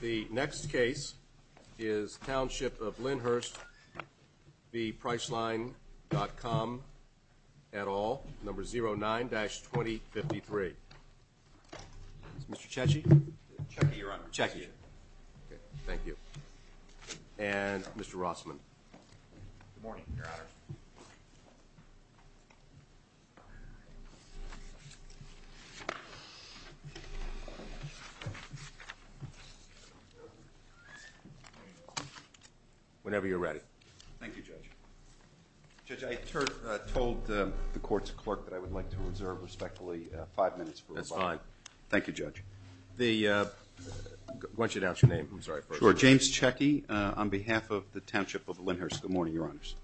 The next case is Township of Lynnhurst v. Priceline.com et al. Number 09-2053. Mr. Cecci? Cecci, Your Honor. Cecci. Thank you. And Mr. Rossman. Good morning, Your Honor. Whenever you're ready. Thank you, Judge. Judge, I told the court's clerk that I would like to reserve, respectfully, five minutes for rebuttal. That's fine. Thank you, Judge. I want you to announce your name. I'm sorry. Sure. James Cecci on behalf of the Township of Lynnhurst. Good morning, Your Honors.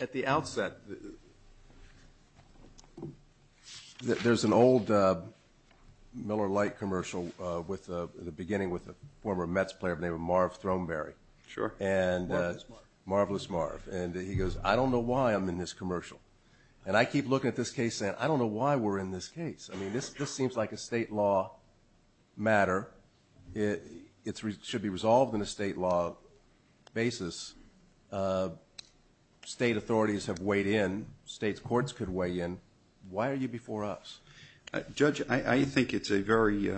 At the outset, there's an old Miller Lite commercial beginning with a former Mets player by the name of Marv Throneberry. Sure. Marvelous Marv. And he goes, I don't know why I'm in this commercial. And I keep looking at this case saying, I don't know why we're in this case. I mean, this seems like a state law matter. It should be resolved in a state law basis. State authorities have weighed in. States' courts could weigh in. Why are you before us? Judge, I think it's a very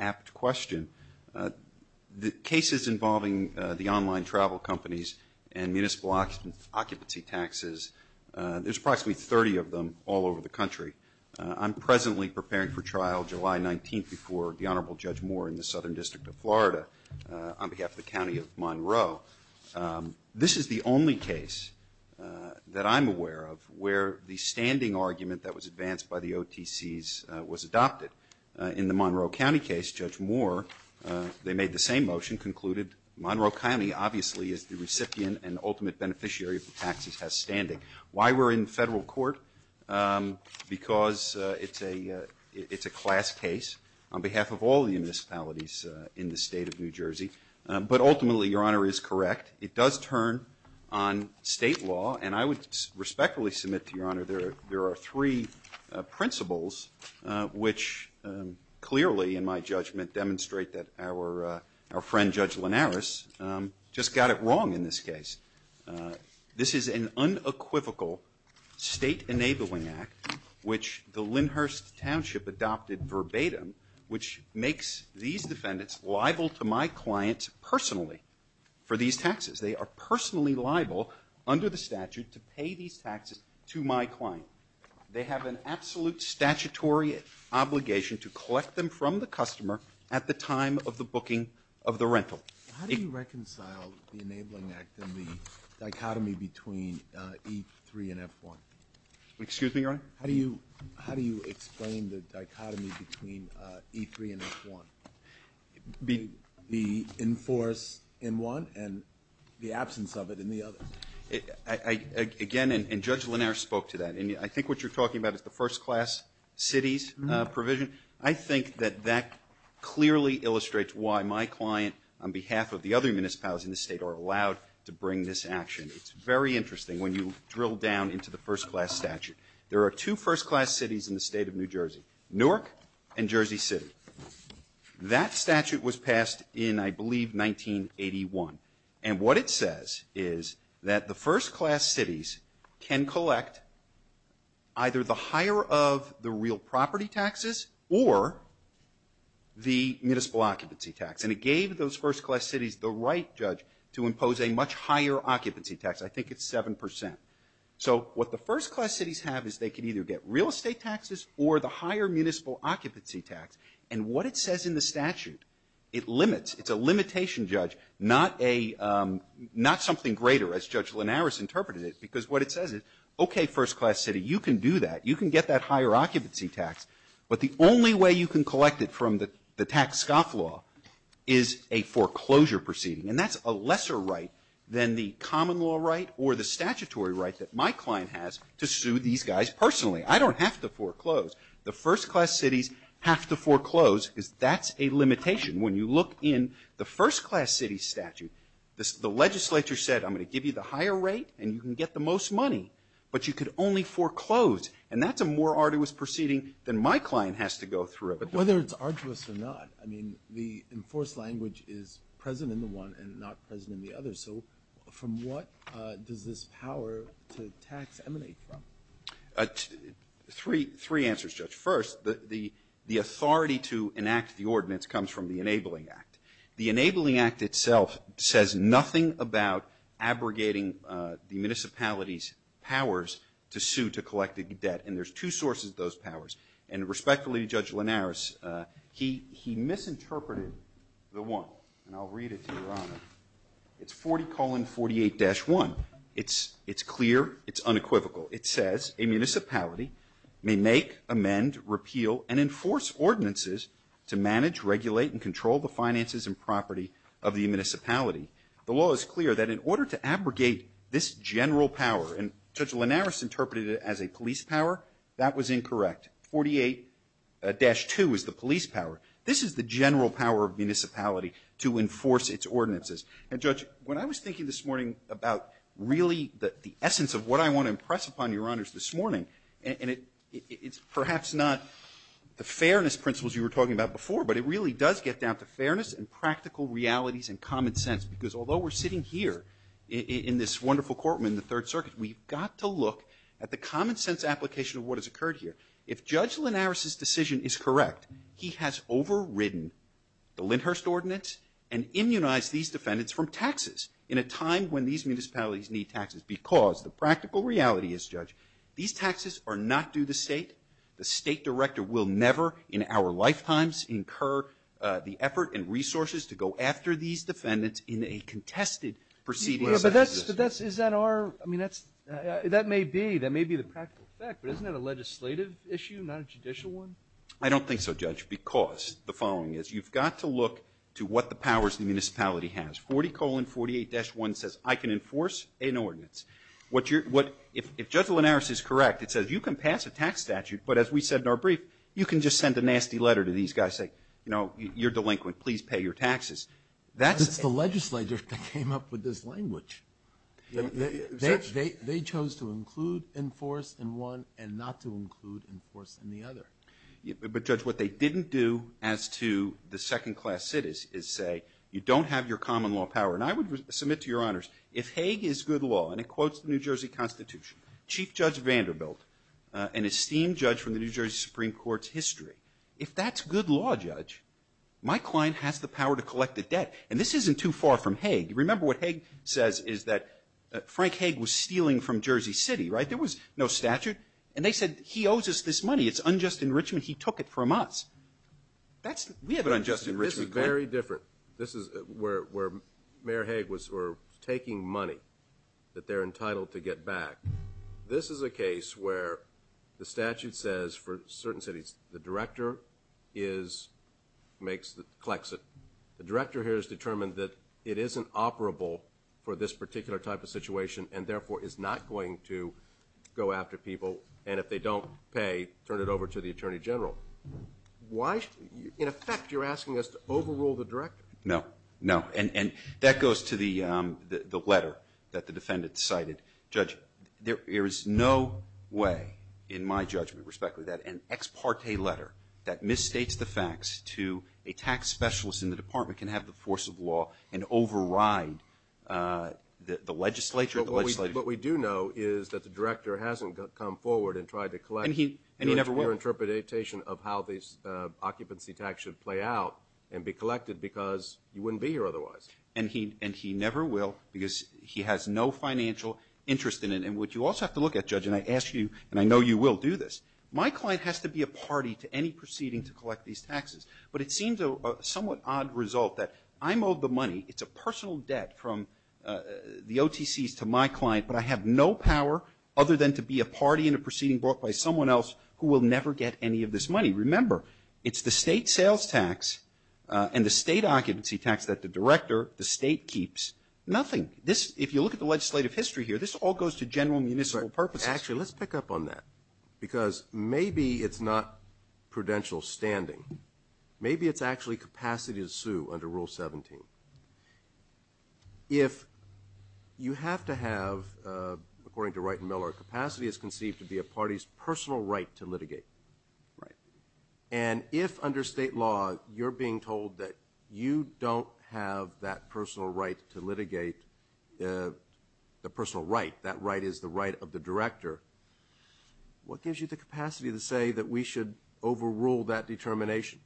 apt question. The cases involving the online travel companies and municipal occupancy taxes, there's approximately 30 of them all over the country. I'm presently preparing for trial July 19th before the Honorable Judge Moore in the Southern District of Florida on behalf of the County of Monroe. This is the only case that I'm aware of where the standing argument that was advanced by the OTCs was adopted. In the Monroe County case, Judge Moore, they made the same motion, concluded Monroe County obviously is the recipient and ultimate beneficiary of the taxes has standing. Why we're in federal court? Because it's a class case on behalf of all the municipalities in the state of New Jersey. But ultimately, Your Honor, it is correct. It does turn on state law. And I would respectfully submit to Your Honor there are three principles which clearly, in my judgment, demonstrate that our friend Judge Linares just got it wrong in this case. This is an unequivocal state enabling act which the Lynnhurst Township adopted verbatim, which makes these defendants liable to my client personally for these taxes. They are personally liable under the statute to pay these taxes to my client. They have an absolute statutory obligation to collect them from the customer at the time of the booking of the rental. How do you reconcile the enabling act and the dichotomy between E3 and F1? Excuse me, Your Honor? How do you explain the dichotomy between E3 and F1? The enforce in one and the absence of it in the other? Again, and Judge Linares spoke to that. I think what you're talking about is the first class cities provision. I think that that clearly illustrates why my client on behalf of the other municipalities in the State are allowed to bring this action. It's very interesting when you drill down into the first class statute. There are two first class cities in the State of New Jersey, Newark and Jersey City. That statute was passed in, I believe, 1981. And what it says is that the first class cities can collect either the higher of the real property taxes or the municipal occupancy tax. And it gave those first class cities the right, Judge, to impose a much higher occupancy tax. I think it's 7%. So what the first class cities have is they can either get real estate taxes or the higher municipal occupancy tax. And what it says in the statute, it limits. It's a limitation, Judge, not a — not something greater, as Judge Linares interpreted it, because what it says is, okay, first class city, you can do that. You can get that higher occupancy tax. But the only way you can collect it from the tax scoff law is a foreclosure proceeding, and that's a lesser right than the common law right or the statutory right that my client has to sue these guys personally. I don't have to foreclose. The first class cities have to foreclose because that's a limitation. When you look in the first class city statute, the legislature said, I'm going to give you the higher rate and you can get the most money, but you could only foreclose. And that's a more arduous proceeding than my client has to go through. But whether it's arduous or not, I mean, the enforced language is present in the one and not present in the other. So from what does this power to tax emanate from? Three answers, Judge. First, the authority to enact the ordinance comes from the Enabling Act. The Enabling Act itself says nothing about abrogating the municipality's powers to sue to collect the debt, and there's two sources of those powers. And respectfully, Judge Linares, he misinterpreted the one, and I'll read it to Your Honor. It's 40-48-1. It's clear. It's unequivocal. It says a municipality may make, amend, repeal, and enforce ordinances to manage, regulate, and control the finances and property of the municipality. The law is clear that in order to abrogate this general power, and Judge Linares interpreted it as a police power, that was incorrect. 48-2 is the police power. This is the general power of municipality to enforce its ordinances. And Judge, when I was thinking this morning about really the essence of what I want to impress upon Your Honors this morning, and it's perhaps not the fairness principles you were talking about before, but it really does get down to fairness and practical realities and common sense, because although we're sitting here in this wonderful courtroom in the Third Circuit, we've got to look at the common sense application of what has occurred here. If Judge Linares's decision is correct, he has overridden the Lindhurst Ordinance and immunized these defendants from taxes in a time when these municipalities need taxes, because the practical reality is, Judge, these taxes are not due the State. The State Director will never in our lifetimes incur the effort and resources to go after these defendants in a contested proceeding. But that's, is that our, I mean, that may be, that may be the practical fact, but isn't that a legislative issue, not a judicial one? I don't think so, Judge, because the following is. You've got to look to what the powers the municipality has. 40-48-1 says I can enforce an ordinance. What you're, what, if Judge Linares is correct, it says you can pass a tax statute, but as we said in our brief, you can just send a nasty letter to these guys, say, you know, you're delinquent, please pay your taxes. That's the legislature that came up with this language. They chose to include enforce in one and not to include enforce in the other. But, Judge, what they didn't do as to the second-class cities is say you don't have your common law power. And I would submit to Your Honors, if Hague is good law, and it quotes the New Jersey Constitution, Chief Judge Vanderbilt, an esteemed judge from the New Jersey Supreme Court's history, if that's good law, Judge, my client has the power to collect the debt. And this isn't too far from Hague. Remember what Hague says is that Frank Hague was stealing from Jersey City, right? There was no statute. And they said he owes us this money. It's unjust enrichment. He took it from us. We have an unjust enrichment plan. This is very different. This is where Mayor Hague was taking money that they're entitled to get back. This is a case where the statute says for certain cities the director collects it. The director here has determined that it isn't operable for this particular type of situation and, therefore, is not going to go after people. And if they don't pay, turn it over to the attorney general. Why? In effect, you're asking us to overrule the director. No. No. And that goes to the letter that the defendant cited. Judge, there is no way, in my judgment, respectfully, that an ex parte letter that misstates the facts to a tax specialist in the department can have the force of law and override the legislature and the legislature. What we do know is that the director hasn't come forward and tried to collect your interpretation of how these occupancy tax should play out and be collected because you wouldn't be here otherwise. And he never will because he has no financial interest in it. And what you also have to look at, Judge, and I ask you, and I know you will do this, my client has to be a party to any proceeding to collect these taxes. But it seems a somewhat odd result that I'm owed the money. It's a personal debt from the OTCs to my client, but I have no power other than to be a party in a proceeding brought by someone else who will never get any of this money. Remember, it's the state sales tax and the state occupancy tax that the director, the state, keeps. Nothing. If you look at the legislative history here, this all goes to general municipal purposes. Actually, let's pick up on that because maybe it's not prudential standing. Maybe it's actually capacity to sue under Rule 17. If you have to have, according to Wright and Miller, capacity is conceived to be a party's personal right to litigate. And if under state law you're being told that you don't have that personal right to litigate, the personal right, that right is the right of the director, what gives you the capacity to say that we should overrule that determination?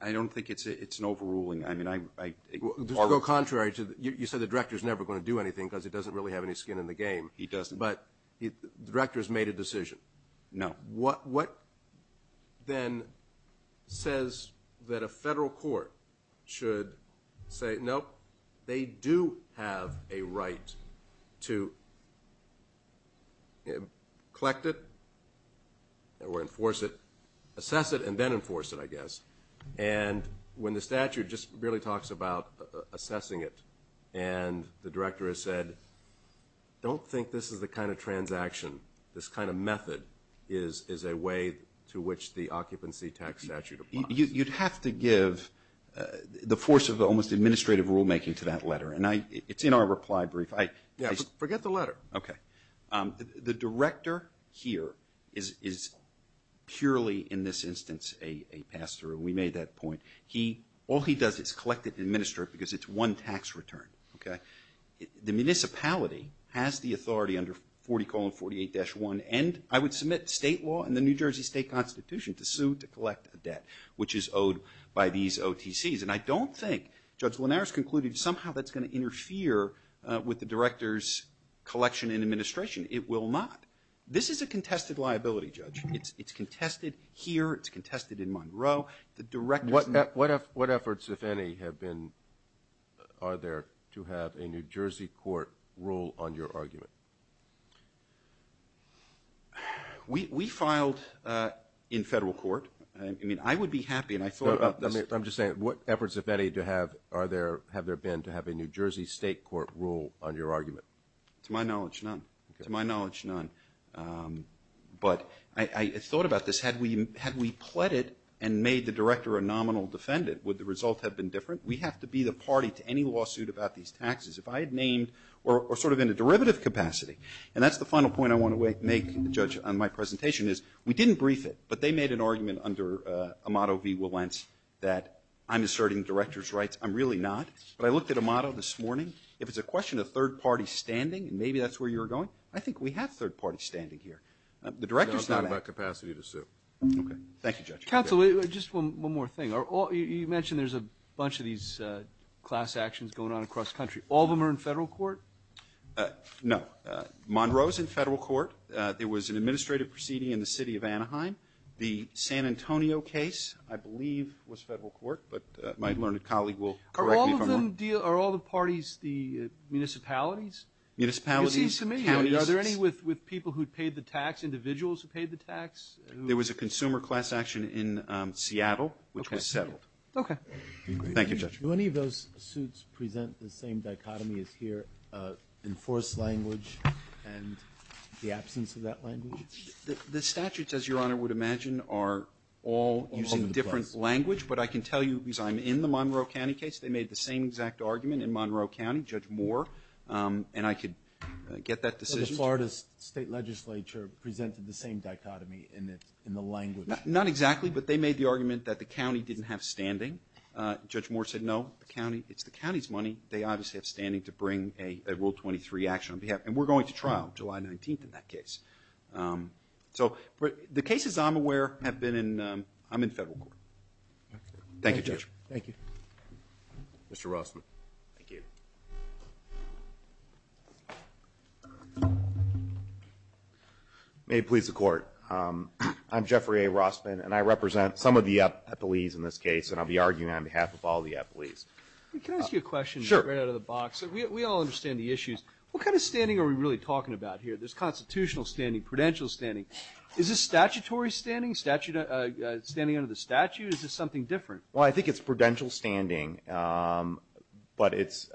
I don't think it's an overruling. Just to go contrary, you said the director is never going to do anything because he doesn't really have any skin in the game. He doesn't. But the director has made a decision. No. What then says that a federal court should say, nope, they do have a right to collect it or enforce it, assess it, and then enforce it, I guess. And when the statute just really talks about assessing it and the director has said, don't think this is the kind of transaction, this kind of method is a way to which the occupancy tax statute applies. You'd have to give the force of almost administrative rulemaking to that letter. And it's in our reply brief. Forget the letter. Okay. The director here is purely, in this instance, a pass-through. We made that point. All he does is collect it and administer it because it's one tax return. The municipality has the authority under 40-48-1 and I would submit state law and the New Jersey State Constitution to sue to collect a debt, which is owed by these OTCs. And I don't think Judge Linares concluded somehow that's going to interfere with the director's collection and administration. It will not. This is a contested liability, Judge. It's contested here. It's contested in Monroe. What efforts, if any, are there to have a New Jersey court rule on your argument? We filed in federal court. I mean, I would be happy and I thought about this. I'm just saying, what efforts, if any, have there been to have a New Jersey state court rule on your argument? To my knowledge, none. To my knowledge, none. But I thought about this. Had we pled it and made the director a nominal defendant, would the result have been different? We have to be the party to any lawsuit about these taxes. If I had named or sort of in a derivative capacity, and that's the final point I want to make, Judge, on my presentation, is we didn't brief it, but they made an argument under Amato v. Wilentz that I'm asserting the director's rights. I'm really not. But I looked at Amato this morning. If it's a question of third party standing and maybe that's where you're going, I think we have third party standing here. The director's not. No, I'm talking about capacity to sue. Okay. Thank you, Judge. Counsel, just one more thing. You mentioned there's a bunch of these class actions going on across the country. All of them are in federal court? No. Monroe's in federal court. There was an administrative proceeding in the city of Anaheim. The San Antonio case, I believe, was federal court, but my learned colleague will correct me if I'm wrong. Are all the parties the municipalities? Municipalities, counties. Are there any with people who paid the tax, individuals who paid the tax? There was a consumer class action in Seattle, which was settled. Okay. Thank you, Judge. Do any of those suits present the same dichotomy as here, enforced language and the absence of that language? The statutes, as Your Honor would imagine, are all using different language. But I can tell you, because I'm in the Monroe County case, they made the same exact argument in Monroe County, Judge Moore, and I could get that decision. So the Florida State Legislature presented the same dichotomy in the language? Not exactly, but they made the argument that the county didn't have standing. Judge Moore said, no, it's the county's money. They obviously have standing to bring a Rule 23 action on behalf. And we're going to trial July 19th in that case. So the cases I'm aware have been in federal court. Thank you, Judge. Thank you. Mr. Rossman. Thank you. May it please the Court. I'm Jeffrey A. Rossman, and I represent some of the appellees in this case, and I'll be arguing on behalf of all the appellees. Can I ask you a question right out of the box? Sure. We all understand the issues. What kind of standing are we really talking about here? There's constitutional standing, prudential standing. Is this statutory standing, standing under the statute? Is this something different? Well, I think it's prudential standing. But it's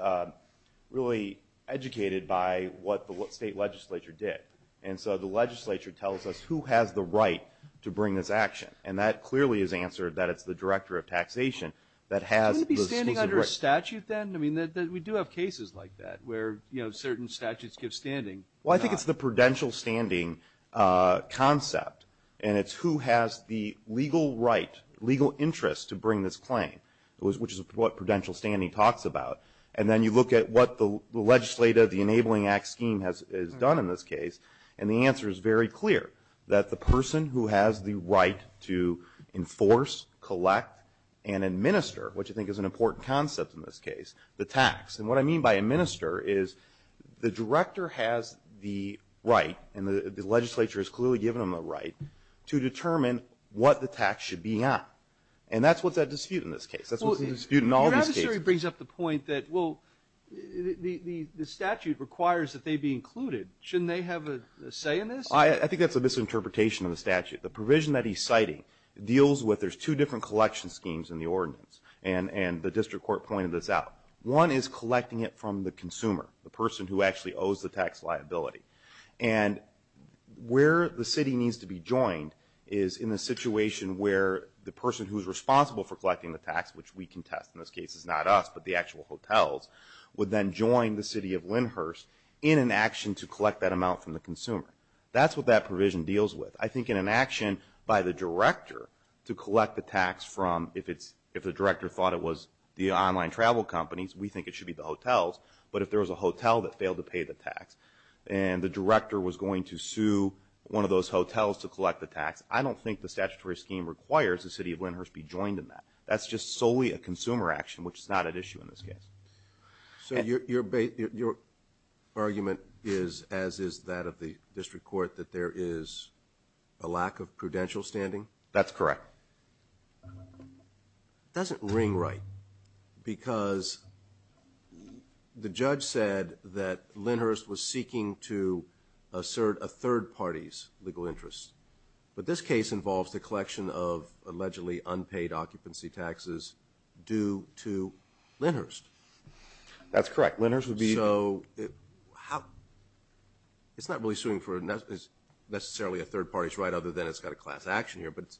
really educated by what the state legislature did. And so the legislature tells us who has the right to bring this action. And that clearly is answered that it's the Director of Taxation that has the standing right. Shouldn't it be standing under a statute then? I mean, we do have cases like that where, you know, certain statutes give standing. Well, I think it's the prudential standing concept, and it's who has the legal right, legal interest to bring this claim, which is what prudential standing talks about. And then you look at what the legislative, the Enabling Act scheme has done in this case, and the answer is very clear, that the person who has the right to enforce, collect, and administer, which I think is an important concept in this case, the tax. And what I mean by administer is the Director has the right, and the legislature has clearly given him a right, to determine what the tax should be on. And that's what's at dispute in this case. That's what's at dispute in all these cases. Your adversary brings up the point that, well, the statute requires that they be included. Shouldn't they have a say in this? I think that's a misinterpretation of the statute. The provision that he's citing deals with, there's two different collection schemes in the ordinance, and the district court pointed this out. One is collecting it from the consumer, the person who actually owes the tax liability. And where the city needs to be joined is in a situation where the person who's responsible for collecting the tax, which we contest in this case, it's not us, but the actual hotels, would then join the city of Lyndhurst in an action to collect that amount from the consumer. That's what that provision deals with. I think in an action by the Director to collect the tax from, if the Director thought it was the online travel companies, we think it should be the hotels, but if there was a hotel that failed to pay the tax, and the Director was going to sue one of those hotels to collect the tax, I don't think the statutory scheme requires the city of Lyndhurst be joined in that. That's just solely a consumer action, which is not at issue in this case. So your argument is, as is that of the district court, that there is a lack of prudential standing? That's correct. It doesn't ring right, because the judge said that Lyndhurst was seeking to assert a third party's legal interest. But this case involves the collection of allegedly unpaid occupancy taxes due to Lyndhurst. That's correct. So it's not really suing for necessarily a third party's right, other than it's got a class action here, but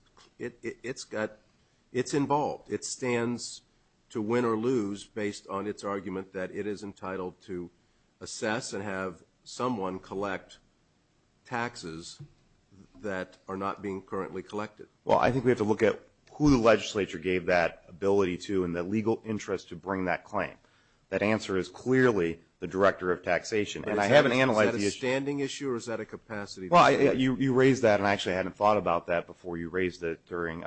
it's involved. It stands to win or lose based on its argument that it is entitled to assess and have someone collect taxes that are not being currently collected. Well, I think we have to look at who the legislature gave that ability to and the legal interest to bring that claim. That answer is clearly the Director of Taxation. And I haven't analyzed the issue. Is that a standing issue, or is that a capacity issue? Well, you raised that, and I actually hadn't thought about that before. You raised it during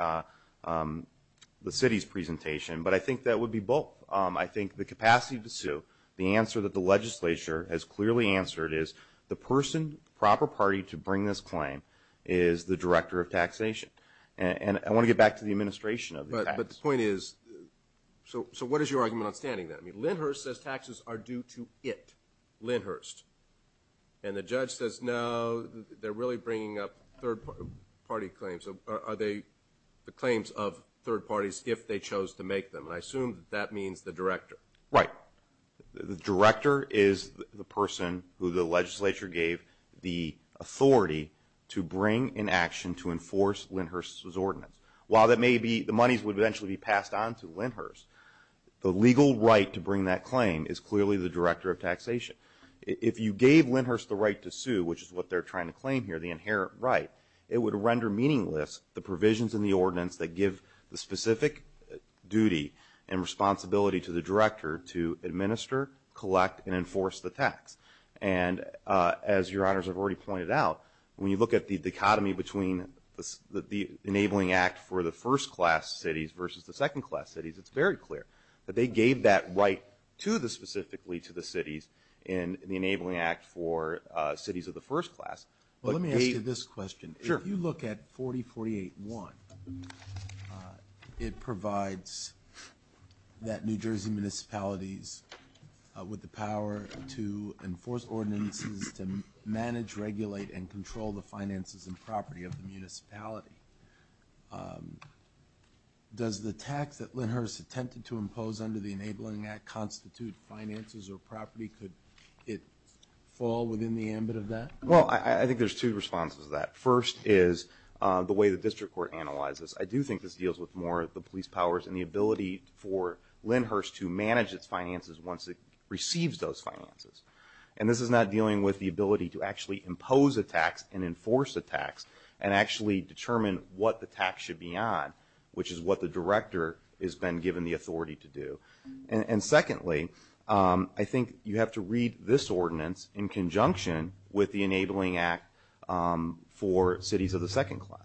the city's presentation, but I think that would be both. I think the capacity to sue, the answer that the legislature has clearly answered is the person, proper party, to bring this claim is the Director of Taxation. And I want to get back to the administration of the tax. But the point is, so what is your argument on standing that? Lyndhurst says taxes are due to it, Lyndhurst. And the judge says, no, they're really bringing up third party claims. Are they the claims of third parties if they chose to make them? And I assume that that means the Director. Right. The Director is the person who the legislature gave the authority to bring in action to enforce Lyndhurst's ordinance. While the monies would eventually be passed on to Lyndhurst, the legal right to bring that claim is clearly the Director of Taxation. If you gave Lyndhurst the right to sue, which is what they're trying to claim here, the inherent right, it would render meaningless the provisions in the ordinance that give the specific duty and responsibility to the Director to administer, collect, and enforce the tax. And as Your Honors have already pointed out, when you look at the dichotomy between the Enabling Act for the first class cities versus the second class cities, it's very clear that they gave that right specifically to the cities in the Enabling Act for cities of the first class. Let me ask you this question. If you look at 4048.1, it provides that New Jersey municipalities with the power to enforce ordinances, to manage, regulate, and control the finances and property of the municipality. Does the tax that Lyndhurst attempted to impose under the Enabling Act constitute finances or property? Could it fall within the ambit of that? Well, I think there's two responses to that. First is the way the district court analyzes. I do think this deals with more of the police powers and the ability for Lyndhurst to manage its finances once it receives those finances. And this is not dealing with the ability to actually impose a tax and enforce a tax and actually determine what the tax should be on, which is what the Director has been given the authority to do. And secondly, I think you have to read this ordinance in conjunction with the Enabling Act for cities of the second class.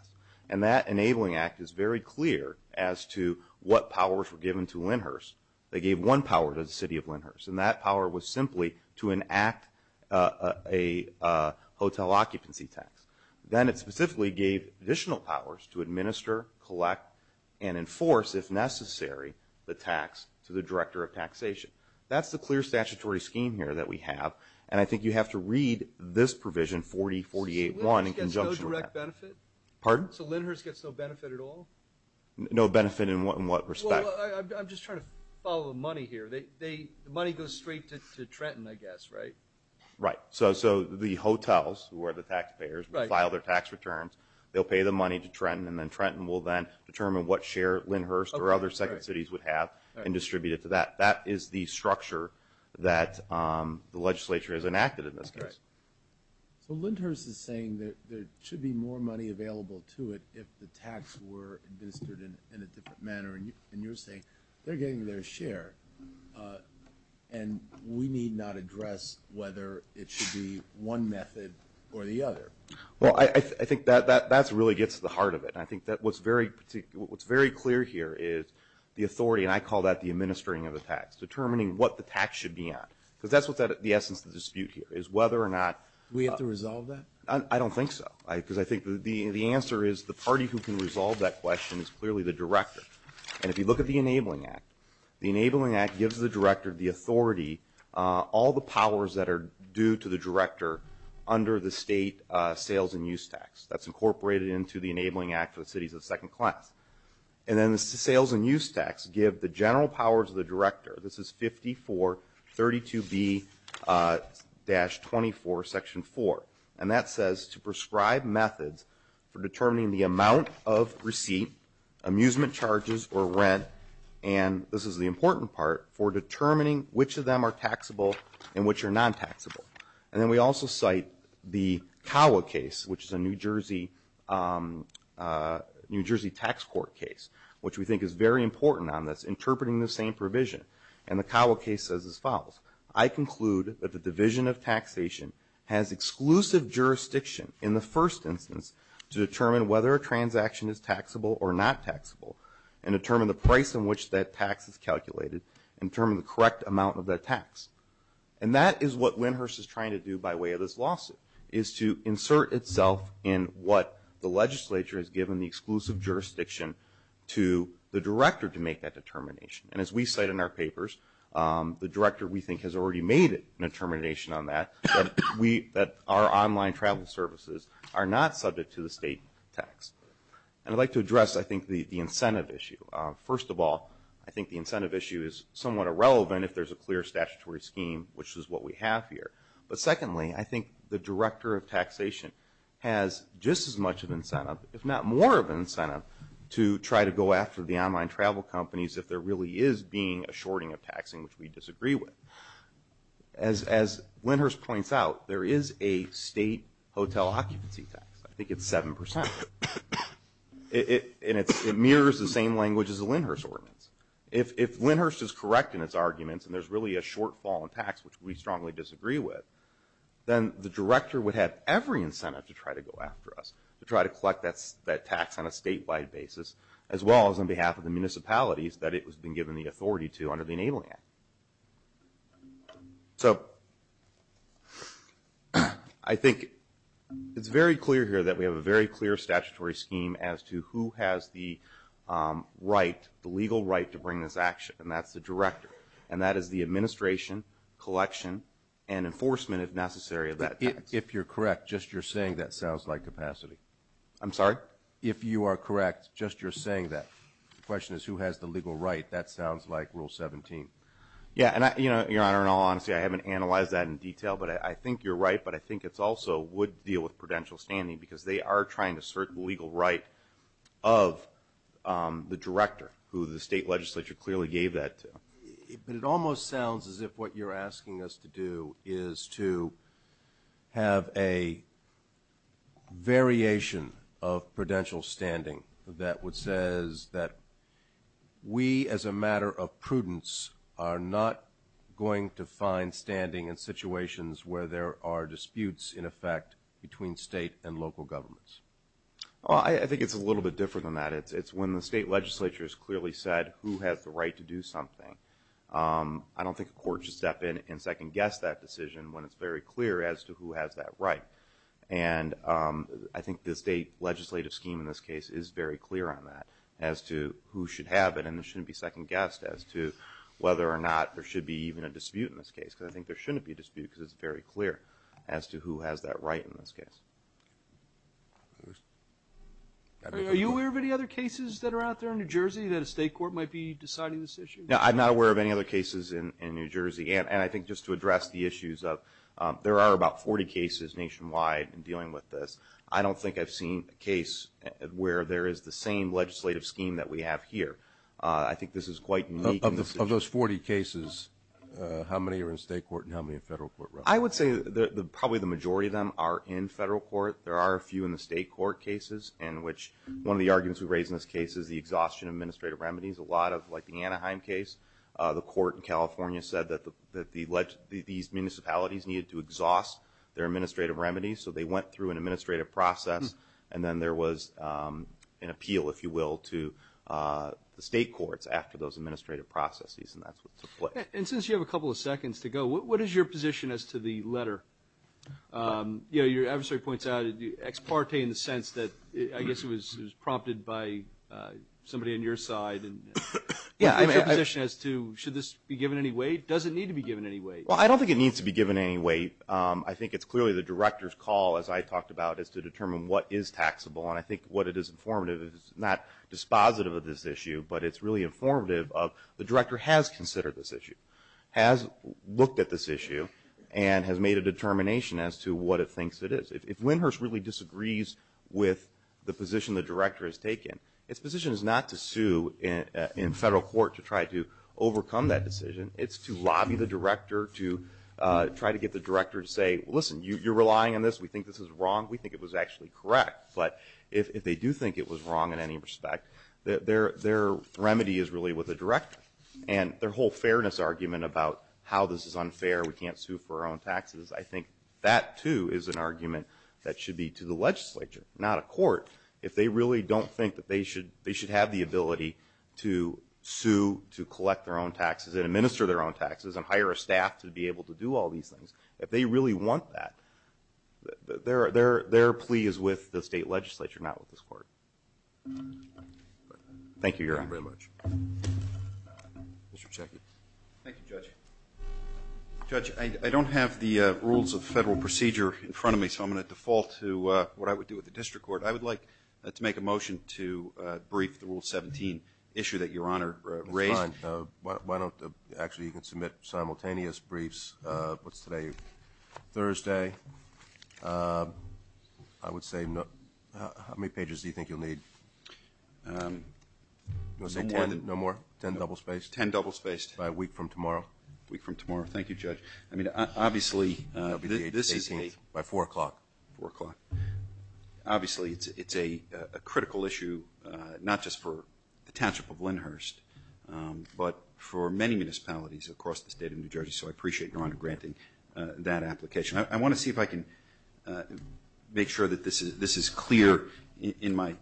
And that Enabling Act is very clear as to what powers were given to Lyndhurst. They gave one power to the city of Lyndhurst, and that power was simply to enact a hotel occupancy tax. Then it specifically gave additional powers to administer, collect, and enforce, if necessary, the tax to the Director of Taxation. That's the clear statutory scheme here that we have, and I think you have to read this provision 4048.1 in conjunction with that. So Lyndhurst gets no direct benefit? Pardon? So Lyndhurst gets no benefit at all? No benefit in what respect? Well, I'm just trying to follow the money here. The money goes straight to Trenton, I guess, right? Right. So the hotels, who are the taxpayers, file their tax returns. They'll pay the money to Trenton, and then Trenton will then determine what share Lyndhurst or other second cities would have and distribute it to that. That is the structure that the legislature has enacted in this case. Okay. So Lyndhurst is saying that there should be more money available to it if the tax were administered in a different manner, and you're saying they're getting their share and we need not address whether it should be one method or the other. Well, I think that really gets to the heart of it, and I think what's very clear here is the authority, and I call that the administering of the tax, determining what the tax should be on, because that's the essence of the dispute here is whether or not. Do we have to resolve that? I don't think so, because I think the answer is the party who can resolve that question is clearly the director. And if you look at the Enabling Act, the Enabling Act gives the director the authority, all the powers that are due to the director under the state sales and use tax. That's incorporated into the Enabling Act for the cities of the second class. And then the sales and use tax give the general powers of the director. This is 5432B-24, Section 4, and that says to prescribe methods for determining the amount of receipt, amusement charges, or rent, and this is the important part, for determining which of them are taxable and which are non-taxable. And then we also cite the Cawa case, which is a New Jersey tax court case, which we think is very important on this, interpreting the same provision. And the Cawa case says as follows, I conclude that the division of taxation has exclusive jurisdiction in the first instance to determine whether a transaction is taxable or not taxable and determine the price in which that tax is calculated and determine the correct amount of that tax. And that is what Windhurst is trying to do by way of this lawsuit, is to insert itself in what the legislature has given the exclusive jurisdiction to the director to make that determination. And as we cite in our papers, the director, we think, has already made a determination on that, that our online travel services are not subject to the state tax. And I'd like to address, I think, the incentive issue. First of all, I think the incentive issue is somewhat irrelevant if there's a clear statutory scheme, which is what we have here. But secondly, I think the director of taxation has just as much of an incentive, if not more of an incentive, to try to go after the online travel companies if there really is being a shorting of taxing, which we disagree with. As Windhurst points out, there is a state hotel occupancy tax. I think it's 7%. And it mirrors the same language as the Windhurst ordinance. If Windhurst is correct in its arguments and there's really a shortfall in tax, which we strongly disagree with, then the director would have every incentive to try to go after us, to try to collect that tax on a statewide basis, as well as on behalf of the municipalities that it has been given the authority to under the Enabling Act. So I think it's very clear here that we have a very clear statutory scheme as to who has the legal right to bring this action, and that's the director. And that is the administration, collection, and enforcement, if necessary, of that tax. If you're correct, just you're saying that sounds like capacity. I'm sorry? If you are correct, just you're saying that. The question is who has the legal right. That sounds like Rule 17. Yeah, and Your Honor, in all honesty, I haven't analyzed that in detail. But I think you're right, but I think it also would deal with prudential standing because they are trying to assert the legal right of the director, who the state legislature clearly gave that to. But it almost sounds as if what you're asking us to do is to have a variation of prudential standing that says that we, as a matter of prudence, are not going to find standing in situations where there are disputes, in effect, between state and local governments. Well, I think it's a little bit different than that. It's when the state legislature has clearly said who has the right to do something. I don't think a court should step in and second-guess that decision when it's very clear as to who has that right. And I think the state legislative scheme in this case is very clear on that, as to who should have it. And it shouldn't be second-guessed as to whether or not there should be even a dispute in this case because I think there shouldn't be a dispute because it's very clear as to who has that right in this case. Are you aware of any other cases that are out there in New Jersey that a state court might be deciding this issue? No, I'm not aware of any other cases in New Jersey. And I think just to address the issues of there are about 40 cases nationwide in dealing with this. I don't think I've seen a case where there is the same legislative scheme that we have here. I think this is quite unique. Of those 40 cases, how many are in state court and how many in federal court? I would say probably the majority of them are in federal court. There are a few in the state court cases in which one of the arguments we raise in this case is the exhaustion of administrative remedies. A lot of, like the Anaheim case, the court in California said that these municipalities needed to exhaust their administrative remedies. So they went through an administrative process and then there was an appeal, if you will, to the state courts after those administrative processes and that's what took place. And since you have a couple of seconds to go, what is your position as to the letter? Your adversary points out ex parte in the sense that I guess it was prompted by somebody on your side. What is your position as to should this be given any weight? Does it need to be given any weight? Well, I don't think it needs to be given any weight. I think it's clearly the director's call, as I talked about, is to determine what is taxable and I think what it is informative is not dispositive of this issue, but it's really informative of the director has considered this issue, has looked at this issue, and has made a determination as to what it thinks it is. If Lindhurst really disagrees with the position the director has taken, its position is not to sue in federal court to try to overcome that decision. It's to lobby the director to try to get the director to say, listen, you're relying on this. We think this is wrong. We think it was actually correct. But if they do think it was wrong in any respect, their remedy is really with the director and their whole fairness argument about how this is unfair, we can't sue for our own taxes, I think that, too, is an argument that should be to the legislature, not a court. If they really don't think that they should have the ability to sue to collect their own taxes and administer their own taxes and hire a staff to be able to do all these things, if they really want that, their plea is with the state legislature, not with this court. Thank you, Your Honor. Thank you very much. Mr. Psaki. Thank you, Judge. Judge, I don't have the rules of federal procedure in front of me, so I'm going to default to what I would do with the district court. I would like to make a motion to brief the Rule 17 issue that Your Honor raised. Fine. Actually, you can submit simultaneous briefs. What's today? Thursday. I would say how many pages do you think you'll need? You want to say ten? No more? Ten double-spaced? Ten double-spaced. By a week from tomorrow? A week from tomorrow. Thank you, Judge. I mean, obviously, this is a – By 4 o'clock. 4 o'clock. Obviously, it's a critical issue, not just for the township of Lyndhurst, but for many municipalities across the state of New Jersey, so I appreciate Your Honor granting that application. I want to see if I can make sure that this is clear in my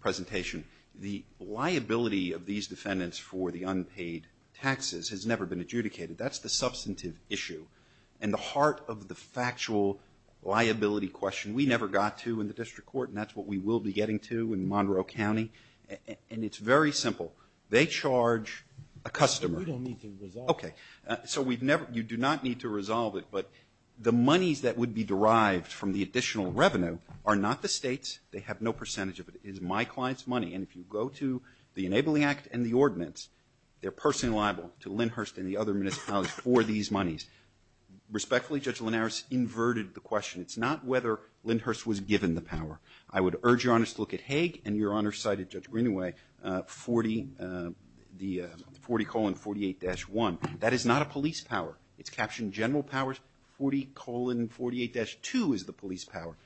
presentation. The liability of these defendants for the unpaid taxes has never been adjudicated. That's the substantive issue. And the heart of the factual liability question, we never got to in the district court, and that's what we will be getting to in Monroe County. And it's very simple. They charge a customer. We don't need to resolve it. Okay. So you do not need to resolve it, but the monies that would be derived from the additional revenue are not the state's. They have no percentage of it. They're personally liable to Lyndhurst and the other municipalities for these monies. Respectfully, Judge Linares inverted the question. It's not whether Lyndhurst was given the power. I would urge Your Honor to look at Hague, and Your Honor cited Judge Greenaway, 40, 48-1. That is not a police power. It's captioned general powers. 40, 48-2 is the police power.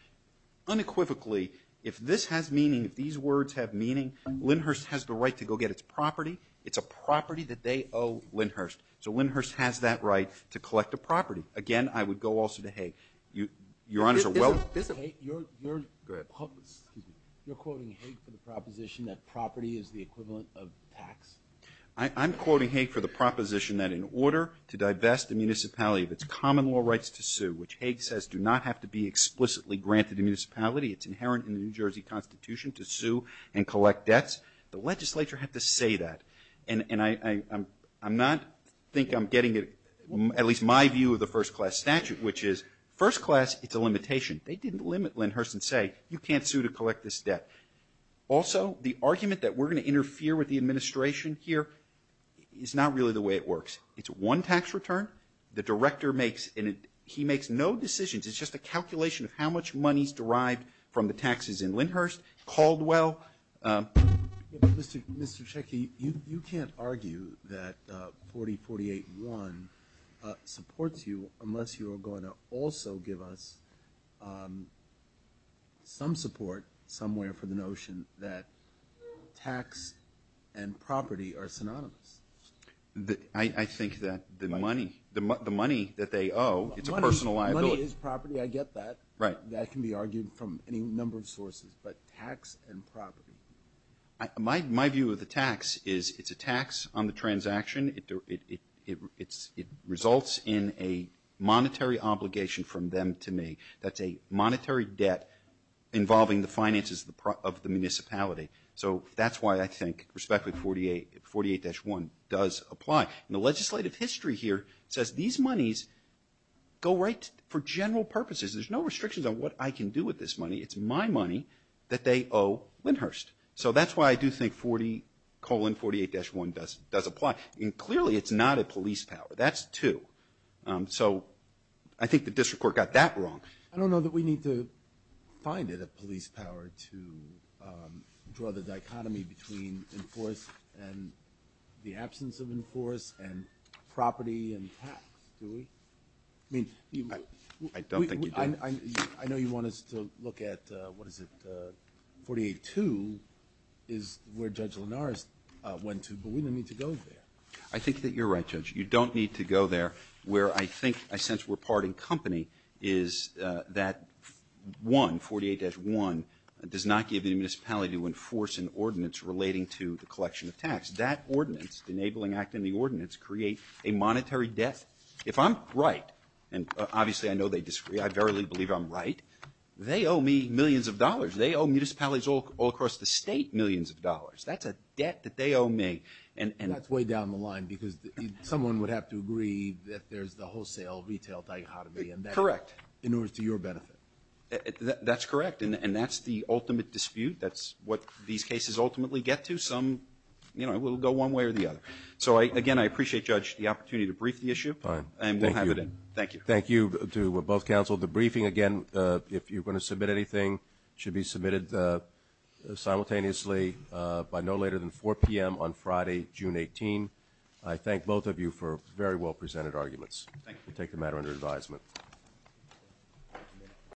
Unequivocally, if this has meaning, if these words have meaning, Lyndhurst has the right to go get its property. It's a property that they owe Lyndhurst. So Lyndhurst has that right to collect a property. Again, I would go also to Hague. Your Honors are well. Isn't Hague, you're quoting Hague for the proposition that property is the equivalent of tax? I'm quoting Hague for the proposition that in order to divest the municipality of its common law rights to sue, which Hague says do not have to be explicitly granted to the municipality, it's inherent in the New Jersey Constitution to sue and collect debts. The legislature had to say that. And I'm not thinking I'm getting at least my view of the first class statute, which is first class, it's a limitation. They didn't limit Lyndhurst and say you can't sue to collect this debt. Also, the argument that we're going to interfere with the administration here is not really the way it works. It's one tax return. The director makes and he makes no decisions. It's just a calculation of how much money is derived from the taxes in Lyndhurst, Caldwell. Mr. Checkey, you can't argue that 4048-1 supports you unless you are going to also give us some support somewhere for the notion that tax and property are synonymous. I think that the money that they owe, it's a personal liability. Money is property. I get that. That can be argued from any number of sources. But tax and property. My view of the tax is it's a tax on the transaction. It results in a monetary obligation from them to me. That's a monetary debt involving the finances of the municipality. So that's why I think respectfully 48-1 does apply. And the legislative history here says these monies go right for general purposes. There's no restrictions on what I can do with this money. It's my money that they owe Lyndhurst. So that's why I do think 40-48-1 does apply. And clearly it's not a police power. That's two. So I think the district court got that wrong. I don't know that we need to find it a police power to draw the dichotomy between enforced and the absence of enforced and property and tax, do we? I don't think you do. I know you want us to look at, what is it, 48-2 is where Judge Linares went to. But we don't need to go there. I think that you're right, Judge. You don't need to go there. Where I think I sense we're parting company is that 1, 48-1, does not give the municipality to enforce an ordinance relating to the collection of tax. That ordinance, enabling act in the ordinance, create a monetary debt. If I'm right, and obviously I know they disagree, I verily believe I'm right, they owe me millions of dollars. They owe municipalities all across the state millions of dollars. That's a debt that they owe me. That's way down the line because someone would have to agree that there's the wholesale retail dichotomy. Correct. In order to your benefit. That's correct, and that's the ultimate dispute. That's what these cases ultimately get to. Some will go one way or the other. So, again, I appreciate, Judge, the opportunity to brief the issue. And we'll have it in. Thank you. Thank you to both counsel. The briefing, again, if you're going to submit anything, should be submitted simultaneously by no later than 4 p.m. on Friday, June 18. I thank both of you for very well presented arguments. Thank you. We'll take the matter under advisement.